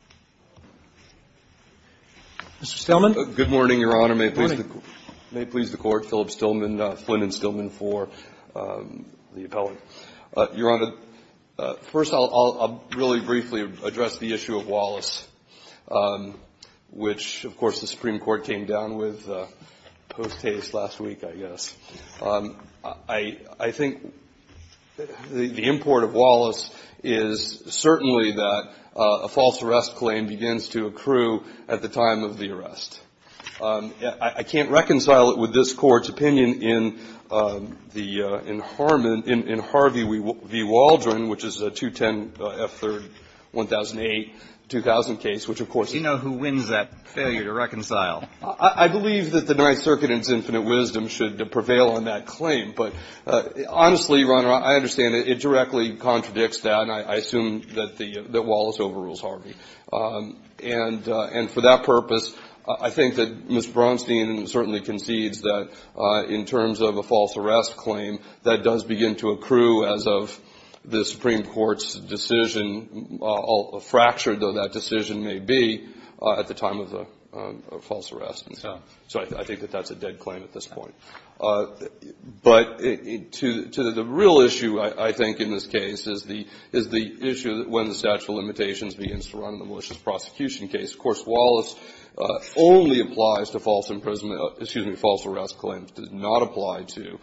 Taxes. Mr. Stillman. Good morning, Your Honor. Good morning. May it please the Court, Philip Stillman, Flynn and Stillman for the appellate. Your Honor, first I'll really briefly address the issue of Wallace, which of course the Supreme Court came down with post-taste last week, I guess. I think the import of Wallace is certainly that a false arrest claim begins to accrue at the time of the arrest. I can't reconcile it with this Court's opinion in Harvey v. Waldron, which is a 210 F. 3rd, 1008, 2000 case, which of course is — I believe that the Ninth Circuit in its infinite wisdom should prevail on that claim. But honestly, Your Honor, I understand it directly contradicts that, and I assume that the — that Wallace overrules Harvey. And for that purpose, I think that Ms. Braunstein certainly concedes that in terms of a false arrest claim, that does begin to accrue as of the Supreme Court's decision, fractured, though that decision may be, at the time of the false arrest and so on. So I think that that's a dead claim at this point. But to the real issue, I think, in this case is the — is the issue when the statute of limitations begins to run in the malicious prosecution case. Of course, Wallace only applies to false imprisonment — excuse me, false arrest claims. It does not apply to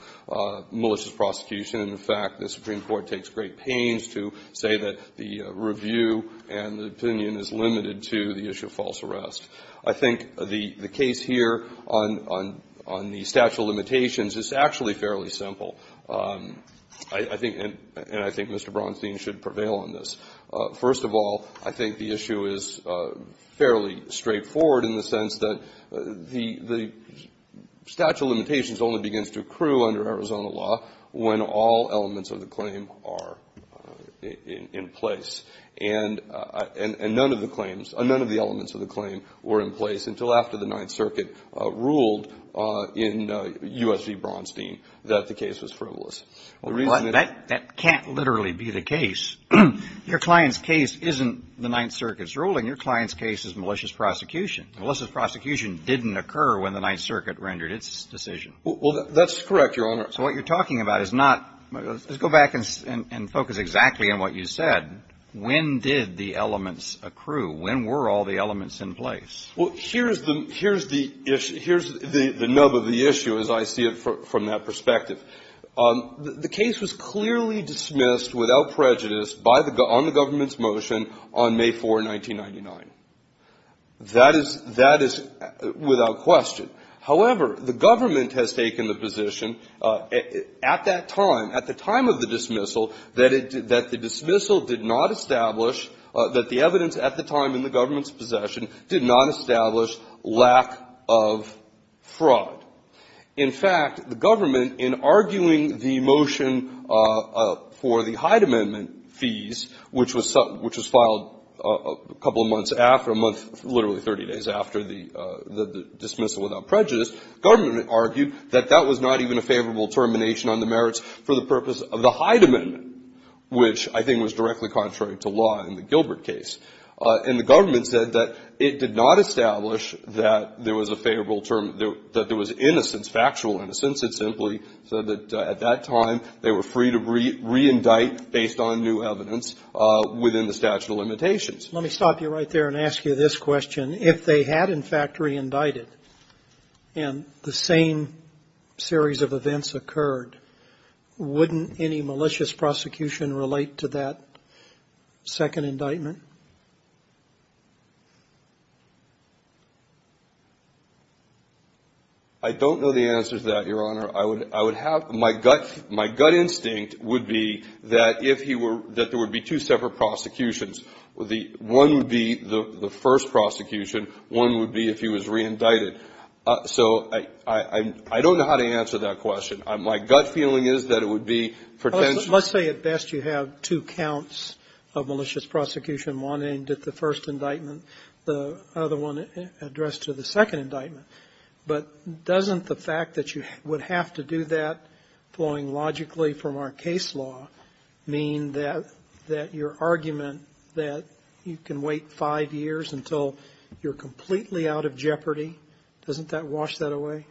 malicious prosecution. And in fact, the Supreme Court takes great pains to say that the review and the opinion is limited to the issue of false arrest. I think the — the case here on — on — on the statute of limitations is actually fairly simple. I — I think — and I think Mr. Braunstein should prevail on this. First of all, I think the issue is fairly straightforward in the sense that the — the statute of limitations only begins to accrue under Arizona law when all elements of the claim are in — in place. And — and none of the claims — none of the elements of the claim were in place until after the Ninth Circuit ruled in U.S. v. Braunstein that the case was frivolous. The reason that — Well, that — that can't literally be the case. Your client's case isn't the Ninth Circuit's ruling. Your client's case is malicious prosecution. Malicious prosecution didn't occur when the Ninth Circuit rendered its decision. Well, that's correct, Your Honor. So what you're talking about is not — let's go back and — and focus exactly on what you said. When did the elements accrue? When were all the elements in place? Well, here's the — here's the issue — here's the nub of the issue as I see it from that perspective. The case was clearly dismissed without prejudice by the — on the government's motion on May 4, 1999. That is — that is without question. However, the government has taken the position at that time, at the time of the dismissal, that it — that the dismissal did not establish — that the evidence at the time in the government's possession did not establish lack of fraud. In fact, the government, in arguing the motion for the Hyde Amendment fees, which was — which was filed a couple of months after, a month — literally 30 days after the — the dismissal without prejudice, government argued that that was not even a favorable termination on the merits for the purpose of the Hyde Amendment, which I think was directly contrary to law in the Gilbert case. And the government said that it did not establish that there was a favorable — that there was innocence, factual innocence. It simply said that at that time they were free to re-indict based on new evidence within the statute of limitations. Let me stop you right there and ask you this question. If they had, in fact, re-indicted and the same series of events occurred, wouldn't any malicious prosecution relate to that second indictment? I don't know the answer to that, Your Honor. I would — I would have — my gut — my gut instinct would be that if he were — that there would be two separate prosecutions. The — one would be the first prosecution. One would be if he was re-indicted. So I — I don't know how to answer that question. My gut feeling is that it would be pretentious. Let's say at best you have two counts of malicious prosecution, one aimed at the first indictment, the other one addressed to the second indictment. But doesn't the fact that you would have to do that flowing logically from our case law mean that — that your argument that you can wait five years until you're completely out of jeopardy, doesn't that wash that away?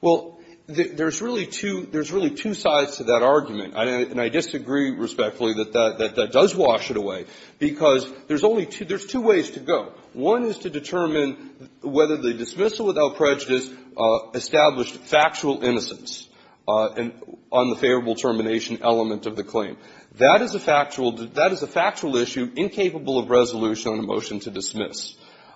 Well, there's really two — there's really two sides to that argument. And I disagree respectfully that that — that that does wash it away because there's only two — there's two ways to go. One is to determine whether the dismissal without prejudice established factual innocence on the favorable termination element of the claim. That is a factual — that is a factual issue incapable of resolution on a motion to dismiss.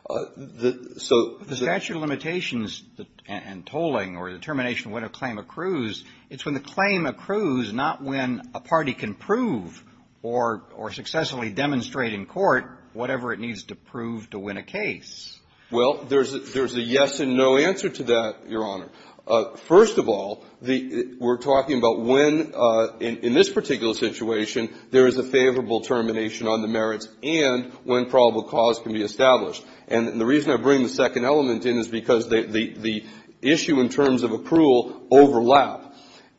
The — so — But the statute of limitations and tolling or the termination when a claim accrues, it's when the claim accrues, not when a party can prove or — or successfully demonstrate in court whatever it needs to prove to win a case. Well, there's — there's a yes and no answer to that, Your Honor. First of all, the — we're talking about when, in this particular situation, there is a favorable termination on the merits and when probable cause can be established. And the reason I bring the second element in is because the — the issue in terms of accrual overlap.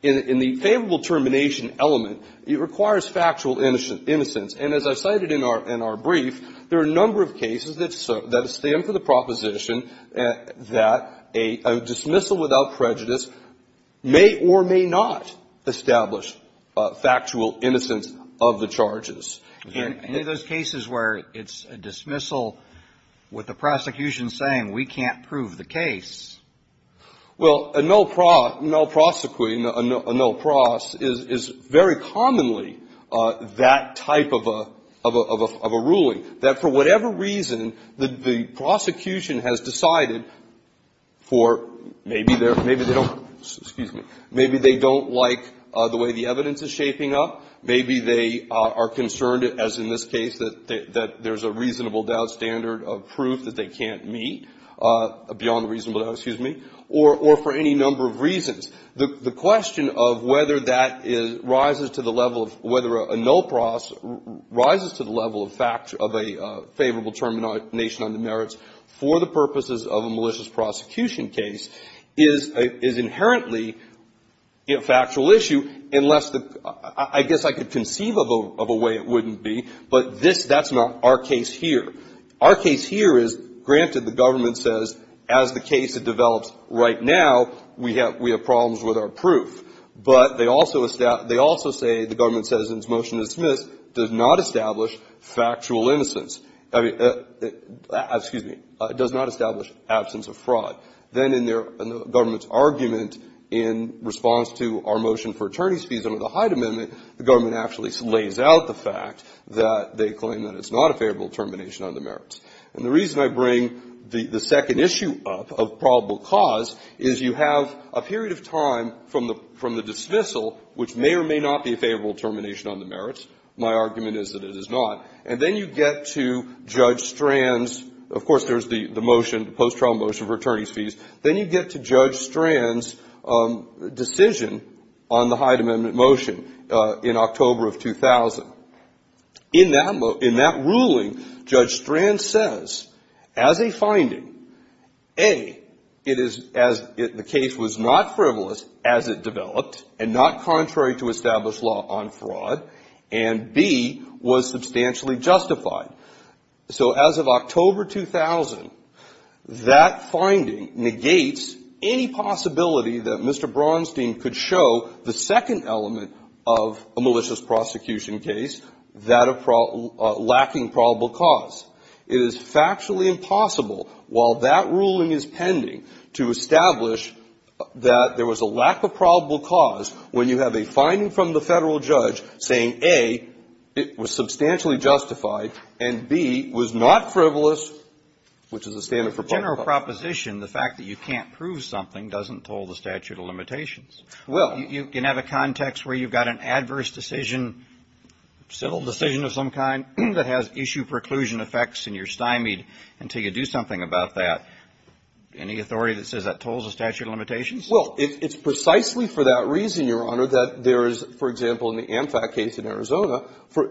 In the favorable termination element, it requires factual innocence. And as I cited in our — in our brief, there are a number of cases that — that stand for the proposition that a — a dismissal without prejudice may or may not establish factual innocence of the charges. And in those cases where it's a dismissal with the prosecution saying, we can't prove the case. Well, a null pro — null prosecuting, a null pros, is — is very commonly that type of a — of a — of a ruling. That for whatever reason, the — the prosecution has decided for — maybe they're — maybe they don't — excuse me — maybe they don't like the way the evidence is shaping up. Maybe they are concerned, as in this case, that — that there's a reasonable doubt standard of proof that they can't meet, beyond reasonable — excuse me — or for any number of reasons. The — the question of whether that is — rises to the level of — whether a null pros — rises to the level of fact — of a favorable termination under merits for the purposes of a malicious prosecution case is — is inherently a factual issue, unless the — I guess I could conceive of a — of a way it wouldn't be. But this — that's not our case here. Our case here is, granted, the government says, as the case develops right now, we have — we have problems with our proof. But they also — they also say the government says, in its motion to dismiss, does not establish factual innocence — I mean — excuse me — does not establish absence of fraud. Then in their — in the government's argument, in response to our motion for attorney's fees under the Hyde Amendment, the government actually lays out the fact that they claim that it's not a favorable termination under merits. And the reason I bring the — the second issue up of probable cause is you have a period of time from the — from the dismissal, which may or may not be a favorable termination under merits. My argument is that it is not. And then you get to Judge Strand's — of course, there's the motion, the post-trial motion for attorney's fees. Then you get to Judge Strand's decision on the Hyde Amendment motion in October of 2000. In that — in that ruling, Judge Strand says, as a finding, A, it is — as the case was not frivolous as it developed and not contrary to established law on fraud, and B, was substantially justified. So as of October 2000, that finding negates any possibility that Mr. Bronstein could show the second element of a malicious prosecution case, that of — lacking probable cause. It is factually impossible, while that ruling is pending, to establish that there was a lack of probable cause when you have a finding from the Federal judge saying, A, it was substantially justified and, B, was not frivolous, which is a standard for public prosecution. General proposition, the fact that you can't prove something doesn't toll the statute of limitations. Well — You can have a context where you've got an adverse decision, civil decision of some kind, that has issue-preclusion effects, and you're stymied until you do something about that. Any authority that says that tolls the statute of limitations? Well, it's precisely for that reason, Your Honor, that there is, for example, in the AmFact case in Arizona,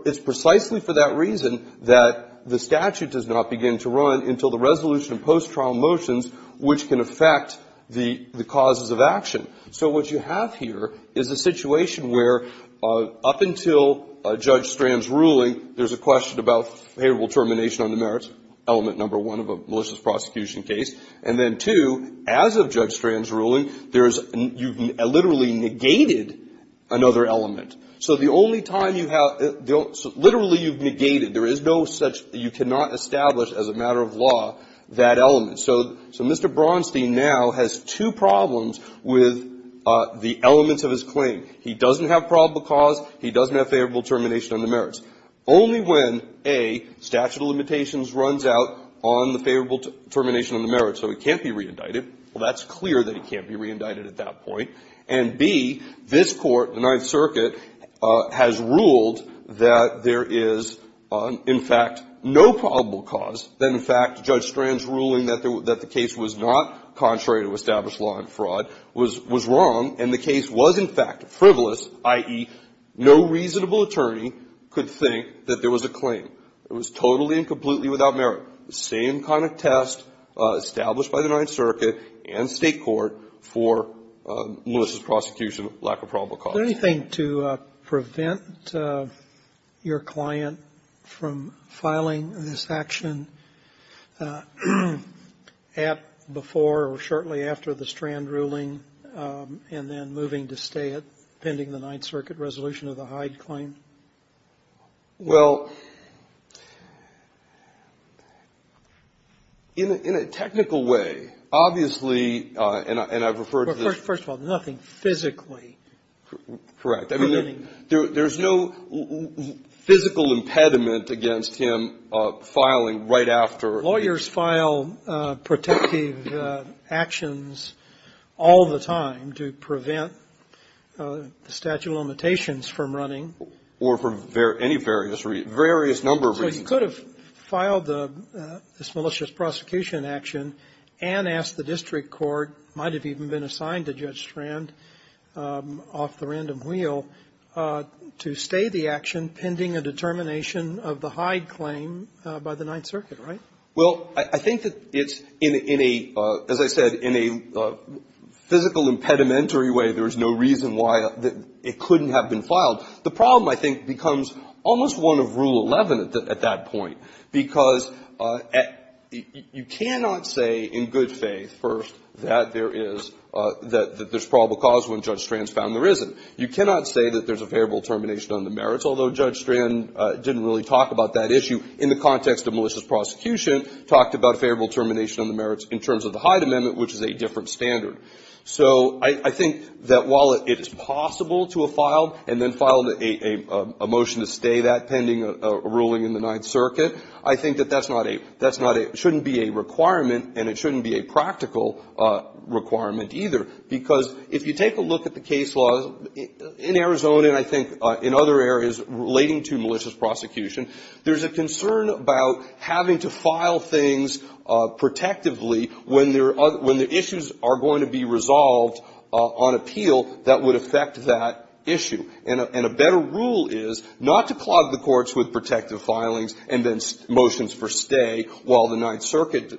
it's precisely for that reason that the statute does not begin to run until the resolution of post-trial motions which can affect the causes of action. So what you have here is a situation where, up until Judge Strand's ruling, there's a question about favorable termination on the merits element number one of a malicious prosecution case, and then, two, as of Judge Strand's ruling, there's — you've literally negated another element. So the only time you have — literally, you've negated. There is no such — you cannot establish, as a matter of law, that element. So Mr. Braunstein now has two problems with the elements of his claim. He doesn't have probable cause. He doesn't have favorable termination on the merits. Only when, A, statute of limitations runs out on the favorable termination on the merits, so he can't be re-indicted. Well, that's clear that he can't be re-indicted at that point. And B, this Court, the Ninth Circuit, has ruled that there is, in fact, no probable cause, that, in fact, Judge Strand's ruling that the case was not contrary to established law and fraud was wrong, and the case was, in fact, frivolous, i.e., no reasonable attorney could think that there was a claim. It was totally and completely without merit. The same kind of test established by the Ninth Circuit and State Court for Melissa's prosecution of lack of probable cause. Sotomayor, is there anything to prevent your client from filing this action at, before or shortly after the Strand ruling, and then moving to stay it pending the Ninth Circuit resolution of the Hyde claim? Well, in a technical way, obviously, and I've referred to the ---- Correct. I mean, there's no physical impediment against him filing right after. Lawyers file protective actions all the time to prevent statute of limitations from running. Or for any various reasons, various number of reasons. So he could have filed this malicious prosecution action and asked the district court, might have even been assigned to Judge Strand off the random wheel, to stay the action pending a determination of the Hyde claim by the Ninth Circuit, right? Well, I think that it's in a, as I said, in a physical impedimentary way. There's no reason why it couldn't have been filed. The problem, I think, becomes almost one of Rule 11 at that point, because you cannot say in good faith, first, that there is, that there's probable cause when Judge Strand's found there isn't. You cannot say that there's a favorable termination on the merits, although Judge Strand didn't really talk about that issue in the context of malicious prosecution, talked about a favorable termination on the merits in terms of the Hyde amendment, which is a different standard. So I think that while it is possible to have filed and then filed a motion to stay that pending a ruling in the Ninth Circuit, I think that that's not a, that's not a, shouldn't be a requirement, and it shouldn't be a practical requirement either, because if you take a look at the case law in Arizona, and I think in other areas relating to malicious prosecution, there's a concern about having to file things protectively when there are, when the issues are going to be resolved on appeal that would affect that issue. And a better rule is not to clog the courts with protective filings and then motions for stay while the Ninth Circuit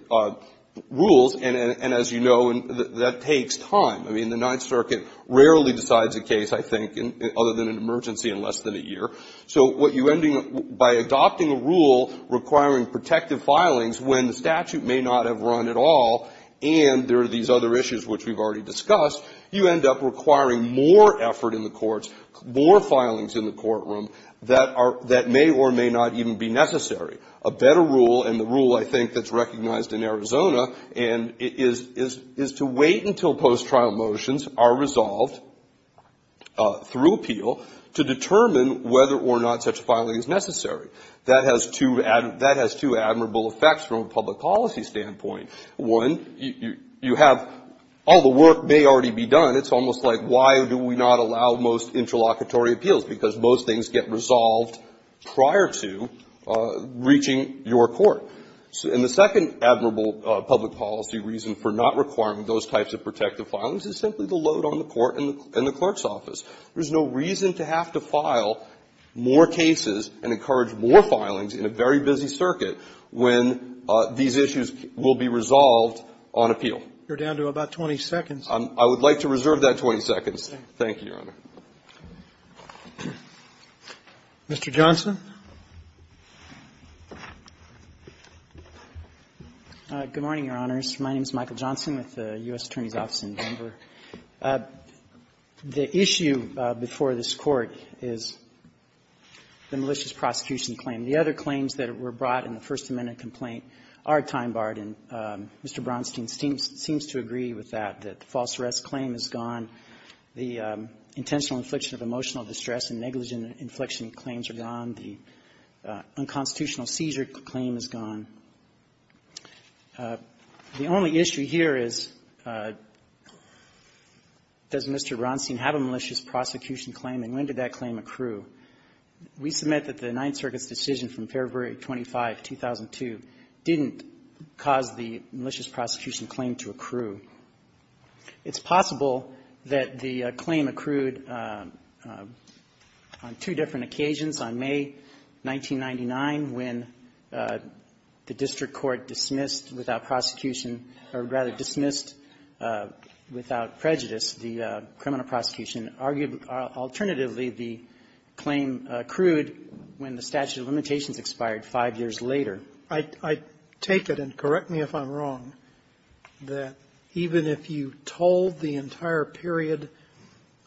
rules, and as you know, that takes time. I mean, the Ninth Circuit rarely decides a case, I think, other than an emergency in less than a year. So what you end up, by adopting a rule requiring protective filings when the statute may not have run at all, and there are these other issues which we've already discussed, you end up requiring more effort in the courts, more filings in the courtroom that are, that may or may not even be necessary. A better rule, and the rule I think that's recognized in Arizona, and it is to wait until post-trial motions are resolved through appeal to determine whether or not such filing is necessary. That has two admirable effects from a public policy standpoint. One, you have, all the work may already be done, it's almost like why do we not allow most interlocutory appeals, because most things get resolved prior to reaching your court. And the second admirable public policy reason for not requiring those types of protective filings is simply the load on the court and the clerk's office. There's no reason to have to file more cases and encourage more filings in a very busy circuit when these issues will be resolved on appeal. You're down to about 20 seconds. I would like to reserve that 20 seconds. Thank you, Your Honor. Mr. Johnson. Good morning, Your Honors. My name is Michael Johnson with the U.S. Attorney's Office in Denver. The issue before this Court is the malicious prosecution claim. The other claims that were brought in the First Amendment complaint are time-barred, and Mr. Bronstein seems to agree with that, that the false arrest claim is gone. The intentional infliction of emotional distress and negligent inflection claims are gone. The unconstitutional seizure claim is gone. The only issue here is, does Mr. Bronstein have a malicious prosecution claim, and when did that claim accrue? We submit that the Ninth Circuit's decision from February 25, 2002, didn't cause the malicious prosecution claim to accrue. It's possible that the claim accrued on two different occasions, on May 1999, when the district court dismissed without prosecution, or rather dismissed without prejudice the criminal prosecution. Alternatively, the claim accrued when the statute of limitations expired five years later. I take it, and correct me if I'm wrong, that even if you told the entire period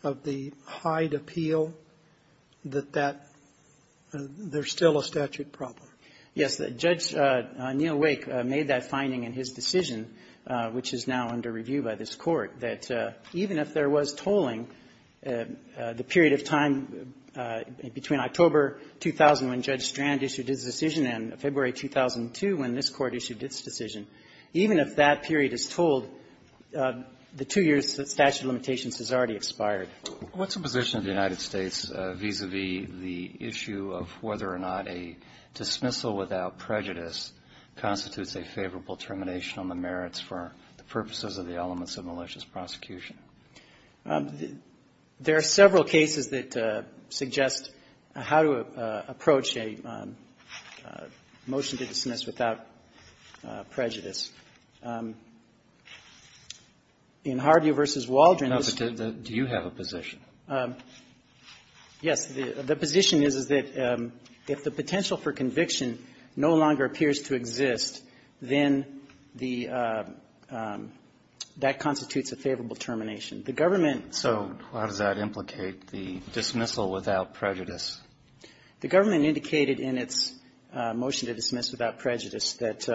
of the Hyde appeal, that that there's still a statute problem? Yes. Judge Neil Wake made that finding in his decision, which is now under review by this Court, that even if there was tolling, the period of time between October 2000, when Judge Strand issued his decision, and February 2002, when this Court issued its decision, even if that period is tolled, the two years' statute of limitations has already expired. What's the position of the United States vis-a-vis the issue of whether or not a dismissal without prejudice constitutes a favorable termination on the merits for the purposes of the elements of malicious prosecution? There are several cases that suggest how to approach a motion to dismiss without prejudice. In Harvey v. Waldron, the student that do you have a position? Yes. The position is, is that if the potential for conviction no longer appears to exist, then the that constitutes a favorable termination. The government So how does that implicate the dismissal without prejudice? The government indicated in its motion to dismiss without prejudice that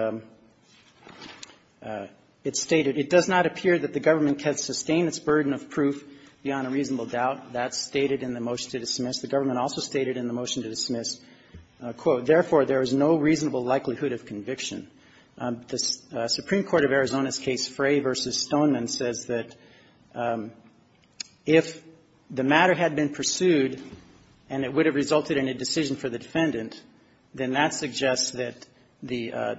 it stated, it does not appear that the government can sustain its burden of proof beyond a reasonable doubt. That's stated in the motion to dismiss. The government also stated in the motion to dismiss, quote, therefore, there is no The Supreme Court of Arizona's case, Frey v. Stoneman, says that if the matter had been pursued and it would have resulted in a decision for the defendant, then that suggests that the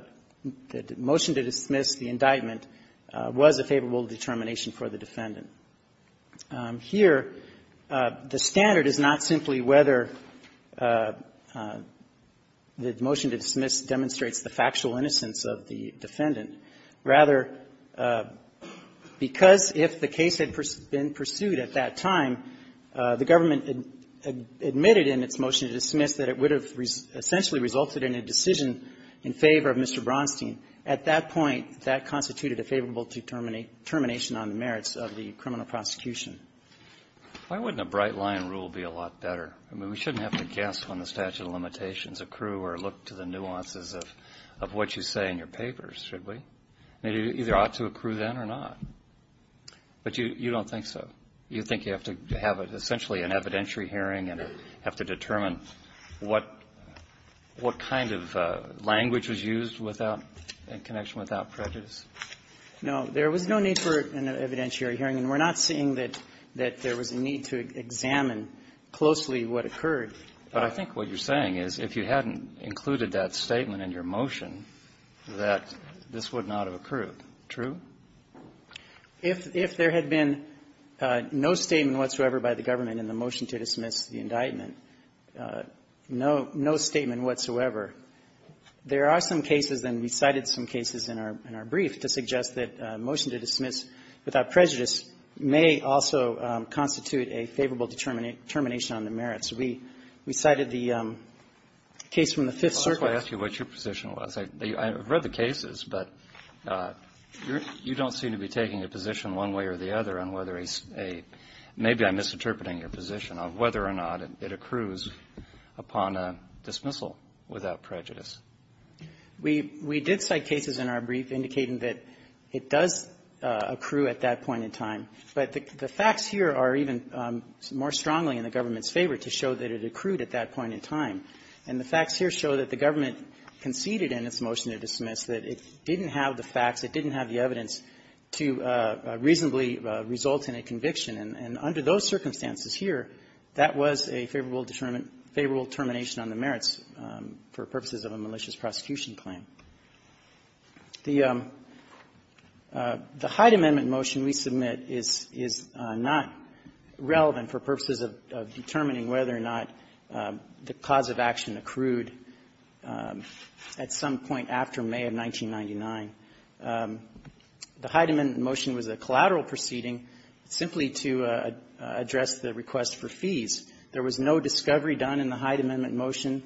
motion to dismiss, the indictment, was a favorable determination for the defendant. Here, the standard is not simply whether the motion to dismiss demonstrates the factual innocence of the defendant. Rather, because if the case had been pursued at that time, the government admitted in its motion to dismiss that it would have essentially resulted in a decision in favor of Mr. Bronstein. At that point, that constituted a favorable determination on the merits of the criminal prosecution. Why wouldn't a bright-line rule be a lot better? I mean, we shouldn't have to guess on the statute of limitations, accrue, or look to the nuances of what you say in your papers, should we? I mean, it either ought to accrue then or not. But you don't think so. You think you have to have, essentially, an evidentiary hearing and have to determine what kind of language was used without any connection, without prejudice? No. There was no need for an evidentiary hearing. And we're not saying that there was a need to examine closely what occurred. But I think what you're saying is if you hadn't included that statement in your motion, that this would not have accrued. True? If there had been no statement whatsoever by the government in the motion to dismiss the indictment, no statement whatsoever, there are some cases, and we cited some cases in our brief, to suggest that a motion to dismiss without prejudice may also constitute a favorable determination on the merits. We cited the case from the Fifth Circuit. Let me ask you what your position was. I've read the cases, but you don't seem to be taking a position one way or the other on whether a — maybe I'm misinterpreting your position of whether or not it accrues upon a dismissal without prejudice. We did cite cases in our brief indicating that it does accrue at that point in time. But the facts here are even more strongly in the government's favor to show that it accrued at that point in time. And the facts here show that the government conceded in its motion to dismiss that it didn't have the facts, it didn't have the evidence to reasonably result in a conviction. And under those circumstances here, that was a favorable determination on the merits for purposes of a malicious prosecution claim. The — the Hyde Amendment motion we submit is — is not relevant for purposes of determining whether or not the cause of action accrued at some point after May of 1999. The Hyde Amendment motion was a collateral proceeding simply to address the request for fees. There was no discovery done in the Hyde Amendment motion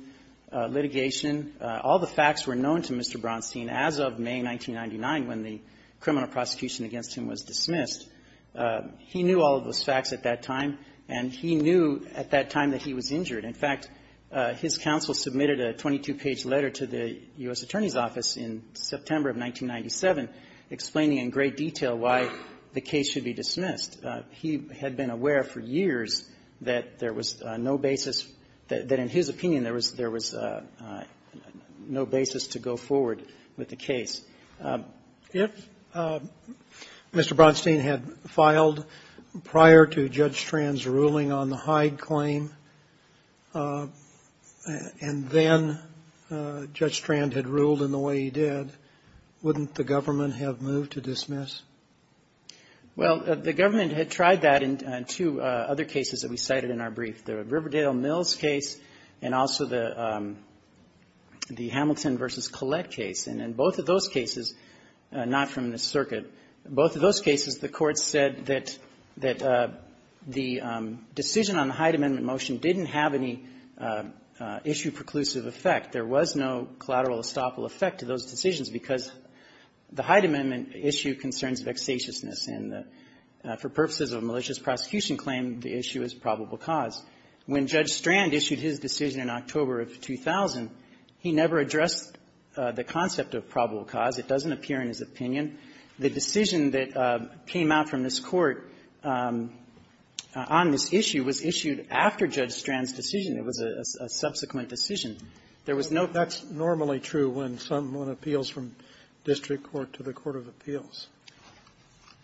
litigation. All the facts were known to Mr. Bronstein as of May 1999, when the criminal prosecution against him was dismissed. He knew all of those facts at that time, and he knew at that time that he was injured. In fact, his counsel submitted a 22-page letter to the U.S. Attorney's Office in September of 1997 explaining in great detail why the case should be dismissed. He had been aware for years that there was no basis — that in his opinion, there was — there was no basis to go forward with the case. If Mr. Bronstein had filed prior to Judge Strand's ruling on the Hyde claim, and then Judge Strand had ruled in the way he did, wouldn't the government have moved to dismiss? Well, the government had tried that in two other cases that we cited in our brief, the Riverdale-Mills case and also the — the Hamilton v. Collette case. And in both of those cases, not from the circuit, both of those cases, the Court said that — that the decision on the Hyde Amendment motion didn't have any issue-preclusive effect. There was no collateral estoppel effect to those decisions because the Hyde Amendment issue concerns vexatiousness, and for purposes of a malicious prosecution claim, the issue is probable cause. When Judge Strand issued his decision in October of 2000, he never addressed the concept of probable cause. It doesn't appear in his opinion. The decision that came out from this Court on this issue was issued after Judge Strand's decision. It was a subsequent decision. There was no — That's normally true when someone appeals from district court to the court of appeals.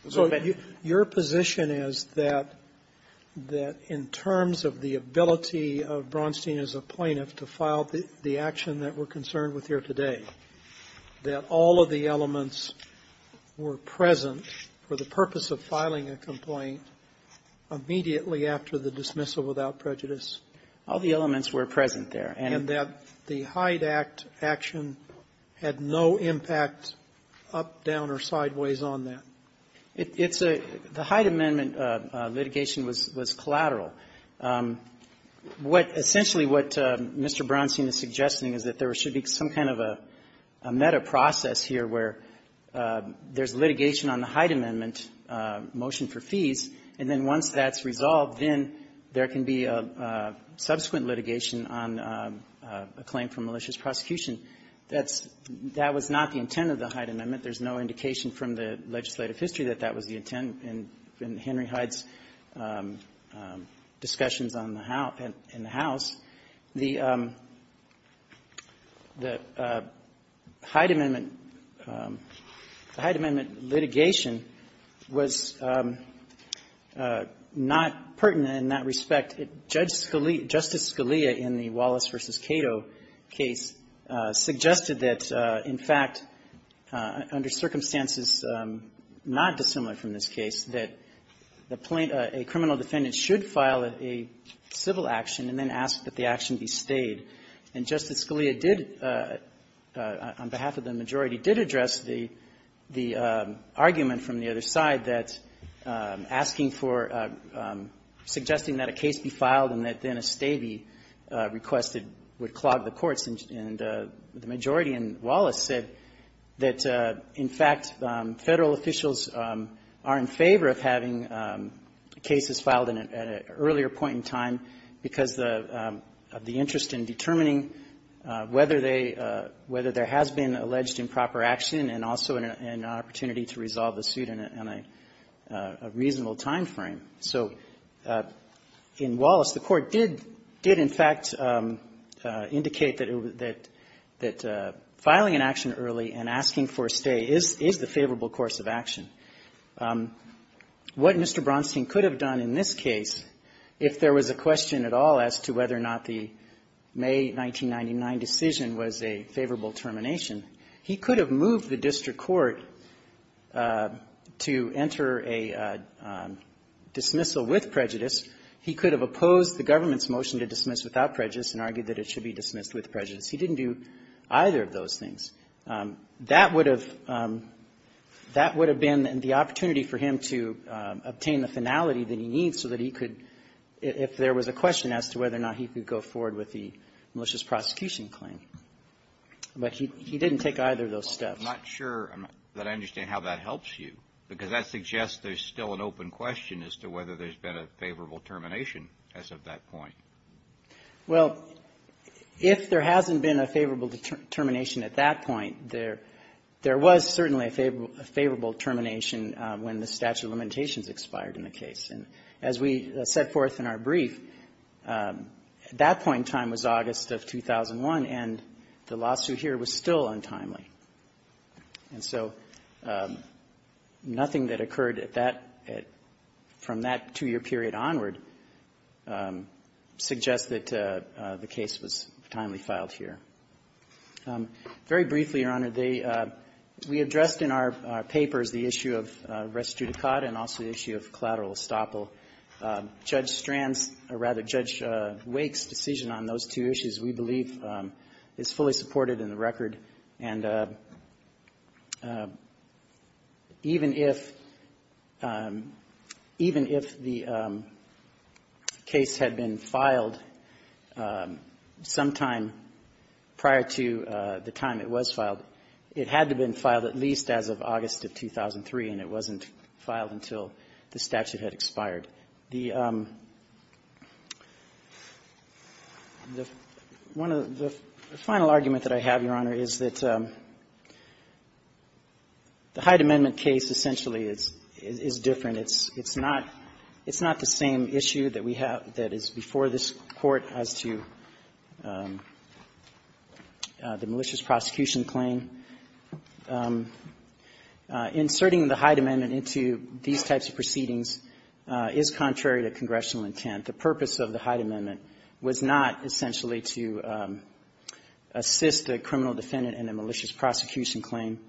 So your position is that — that in terms of the ability of Bronstein as a plaintiff to file the action that we're concerned with here today, that all of the elements were present for the purpose of filing a complaint immediately after the dismissal without prejudice? All the elements were present there. And that the Hyde Act action had no impact up, down, or sideways on that? It's a — the Hyde Amendment litigation was — was collateral. What — essentially, what Mr. Bronstein is suggesting is that there should be some kind of a — a meta-process here where there's litigation on the Hyde Amendment motion for fees, and then once that's resolved, then there can be a subsequent litigation on a claim for malicious prosecution. That's — that was not the intent of the Hyde Amendment. There's no indication from the legislative history that that was the intent in — in Henry Hyde's discussions on the House — in the House. The — the Hyde Amendment not pertinent in that respect, it — Judge Scalia — Justice Scalia, in the Wallace v. Cato case, suggested that, in fact, under circumstances not dissimilar from this case, that the plaintiff — a criminal defendant should file a civil action and then ask that the action be stayed. And Justice Scalia did, on behalf of the majority, did address the — the argument from the other side that asking for a criminal action, suggesting that a case be filed and that then a stay be requested, would clog the courts. And the majority in Wallace said that, in fact, Federal officials are in favor of having cases filed at an earlier point in time because of the interest in determining whether they — whether there has been alleged improper action and also an opportunity to resolve the suit in a — in a reasonable time frame. So in Wallace, the Court did — did, in fact, indicate that — that filing an action early and asking for a stay is — is the favorable course of action. What Mr. Bronstein could have done in this case, if there was a question at all as to whether or not the May 1999 decision was a favorable termination, he could have moved the district court to enter a dismissal with prejudice. He could have opposed the government's motion to dismiss without prejudice and argued that it should be dismissed with prejudice. He didn't do either of those things. That would have — that would have been the opportunity for him to obtain the finality that he needs so that he could, if there was a question as to whether or not he could go forward with the malicious prosecution claim. But he — he didn't take either of those steps. I'm not sure that I understand how that helps you, because that suggests there's still an open question as to whether there's been a favorable termination as of that point. Well, if there hasn't been a favorable termination at that point, there — there was certainly a favorable — a favorable termination when the statute of limitations expired in the case. And as we set forth in our brief, at that point in time was August of 2001, and the statute of limitations expired. And so nothing that occurred at that — from that two-year period onward suggests that the case was timely filed here. Very briefly, Your Honor, they — we addressed in our papers the issue of res judicata and also the issue of collateral estoppel. Judge Strand's — or rather, Judge Wake's decision on those two issues, we believe, is fully supported in the record. And even if — even if the case had been filed sometime prior to the time it was filed, it had to have been filed at least as of August of 2003, and it wasn't filed until the statute had expired. The final argument that I have, Your Honor, is that the Hyde Amendment case essentially is — is different. It's not — it's not the same issue that we have — that is before this Court as to the malicious prosecution claim. Inserting the Hyde Amendment into these types of proceedings is not the same issue as the Hyde Amendment. It is contrary to congressional intent. The purpose of the Hyde Amendment was not essentially to assist a criminal defendant in a malicious prosecution claim.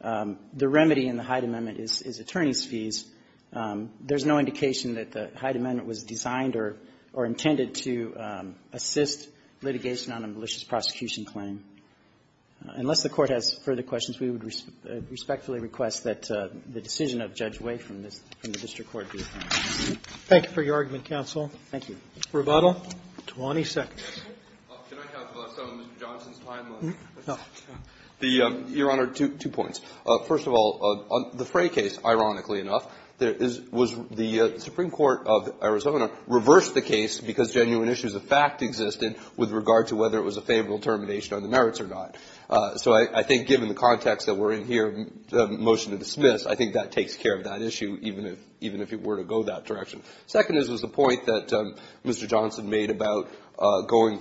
The remedy in the Hyde Amendment is attorney's fees. There's no indication that the Hyde Amendment was designed or intended to assist litigation on a malicious prosecution claim. Unless the Court has further questions, we would respectfully request that the decision of Judge Wake from the district court be affirmed. Thank you. Thank you for your argument, counsel. Thank you. Rebuttal? Twenty seconds. Can I have some of Mr. Johnson's timeline? Your Honor, two points. First of all, the Frey case, ironically enough, was — the Frey case was a favorable case, whether it was a favorable termination on the merits or not. So I think given the context that we're in here, the motion to dismiss, I think that takes care of that issue, even if — even if it were to go that direction. Second is the point that Mr. Johnson made about going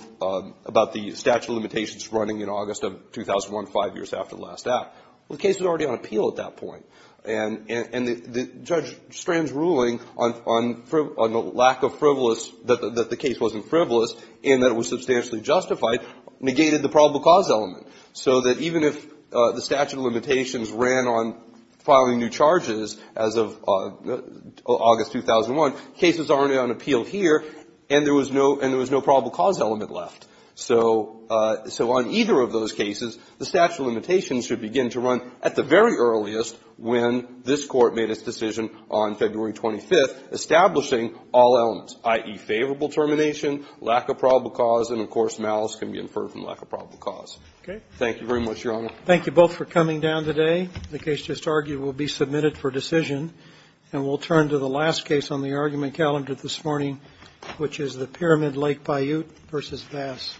— about the statute of limitations running in August of 2001, five years after the last act. The case was already on appeal at that point. And the — Judge Strand's ruling on the lack of frivolous — that the case wasn't frivolous and that it was substantially justified negated the probable cause element. So that even if the statute of limitations ran on filing new charges as of August 2001, cases are already on appeal here, and there was no — and there was no probable cause element left. So on either of those cases, the statute of limitations should begin to run at the very earliest when this Court made its decision on February 25th, establishing all elements, i.e., favorable termination, lack of probable cause, and, of course, malice can be inferred from lack of probable cause. Okay. Thank you very much, Your Honor. Thank you both for coming down today. The case just argued will be submitted for decision. And we'll turn to the last case on the argument calendar this morning, which is the Pyramid Lake Paiute v. Vass. Thank you.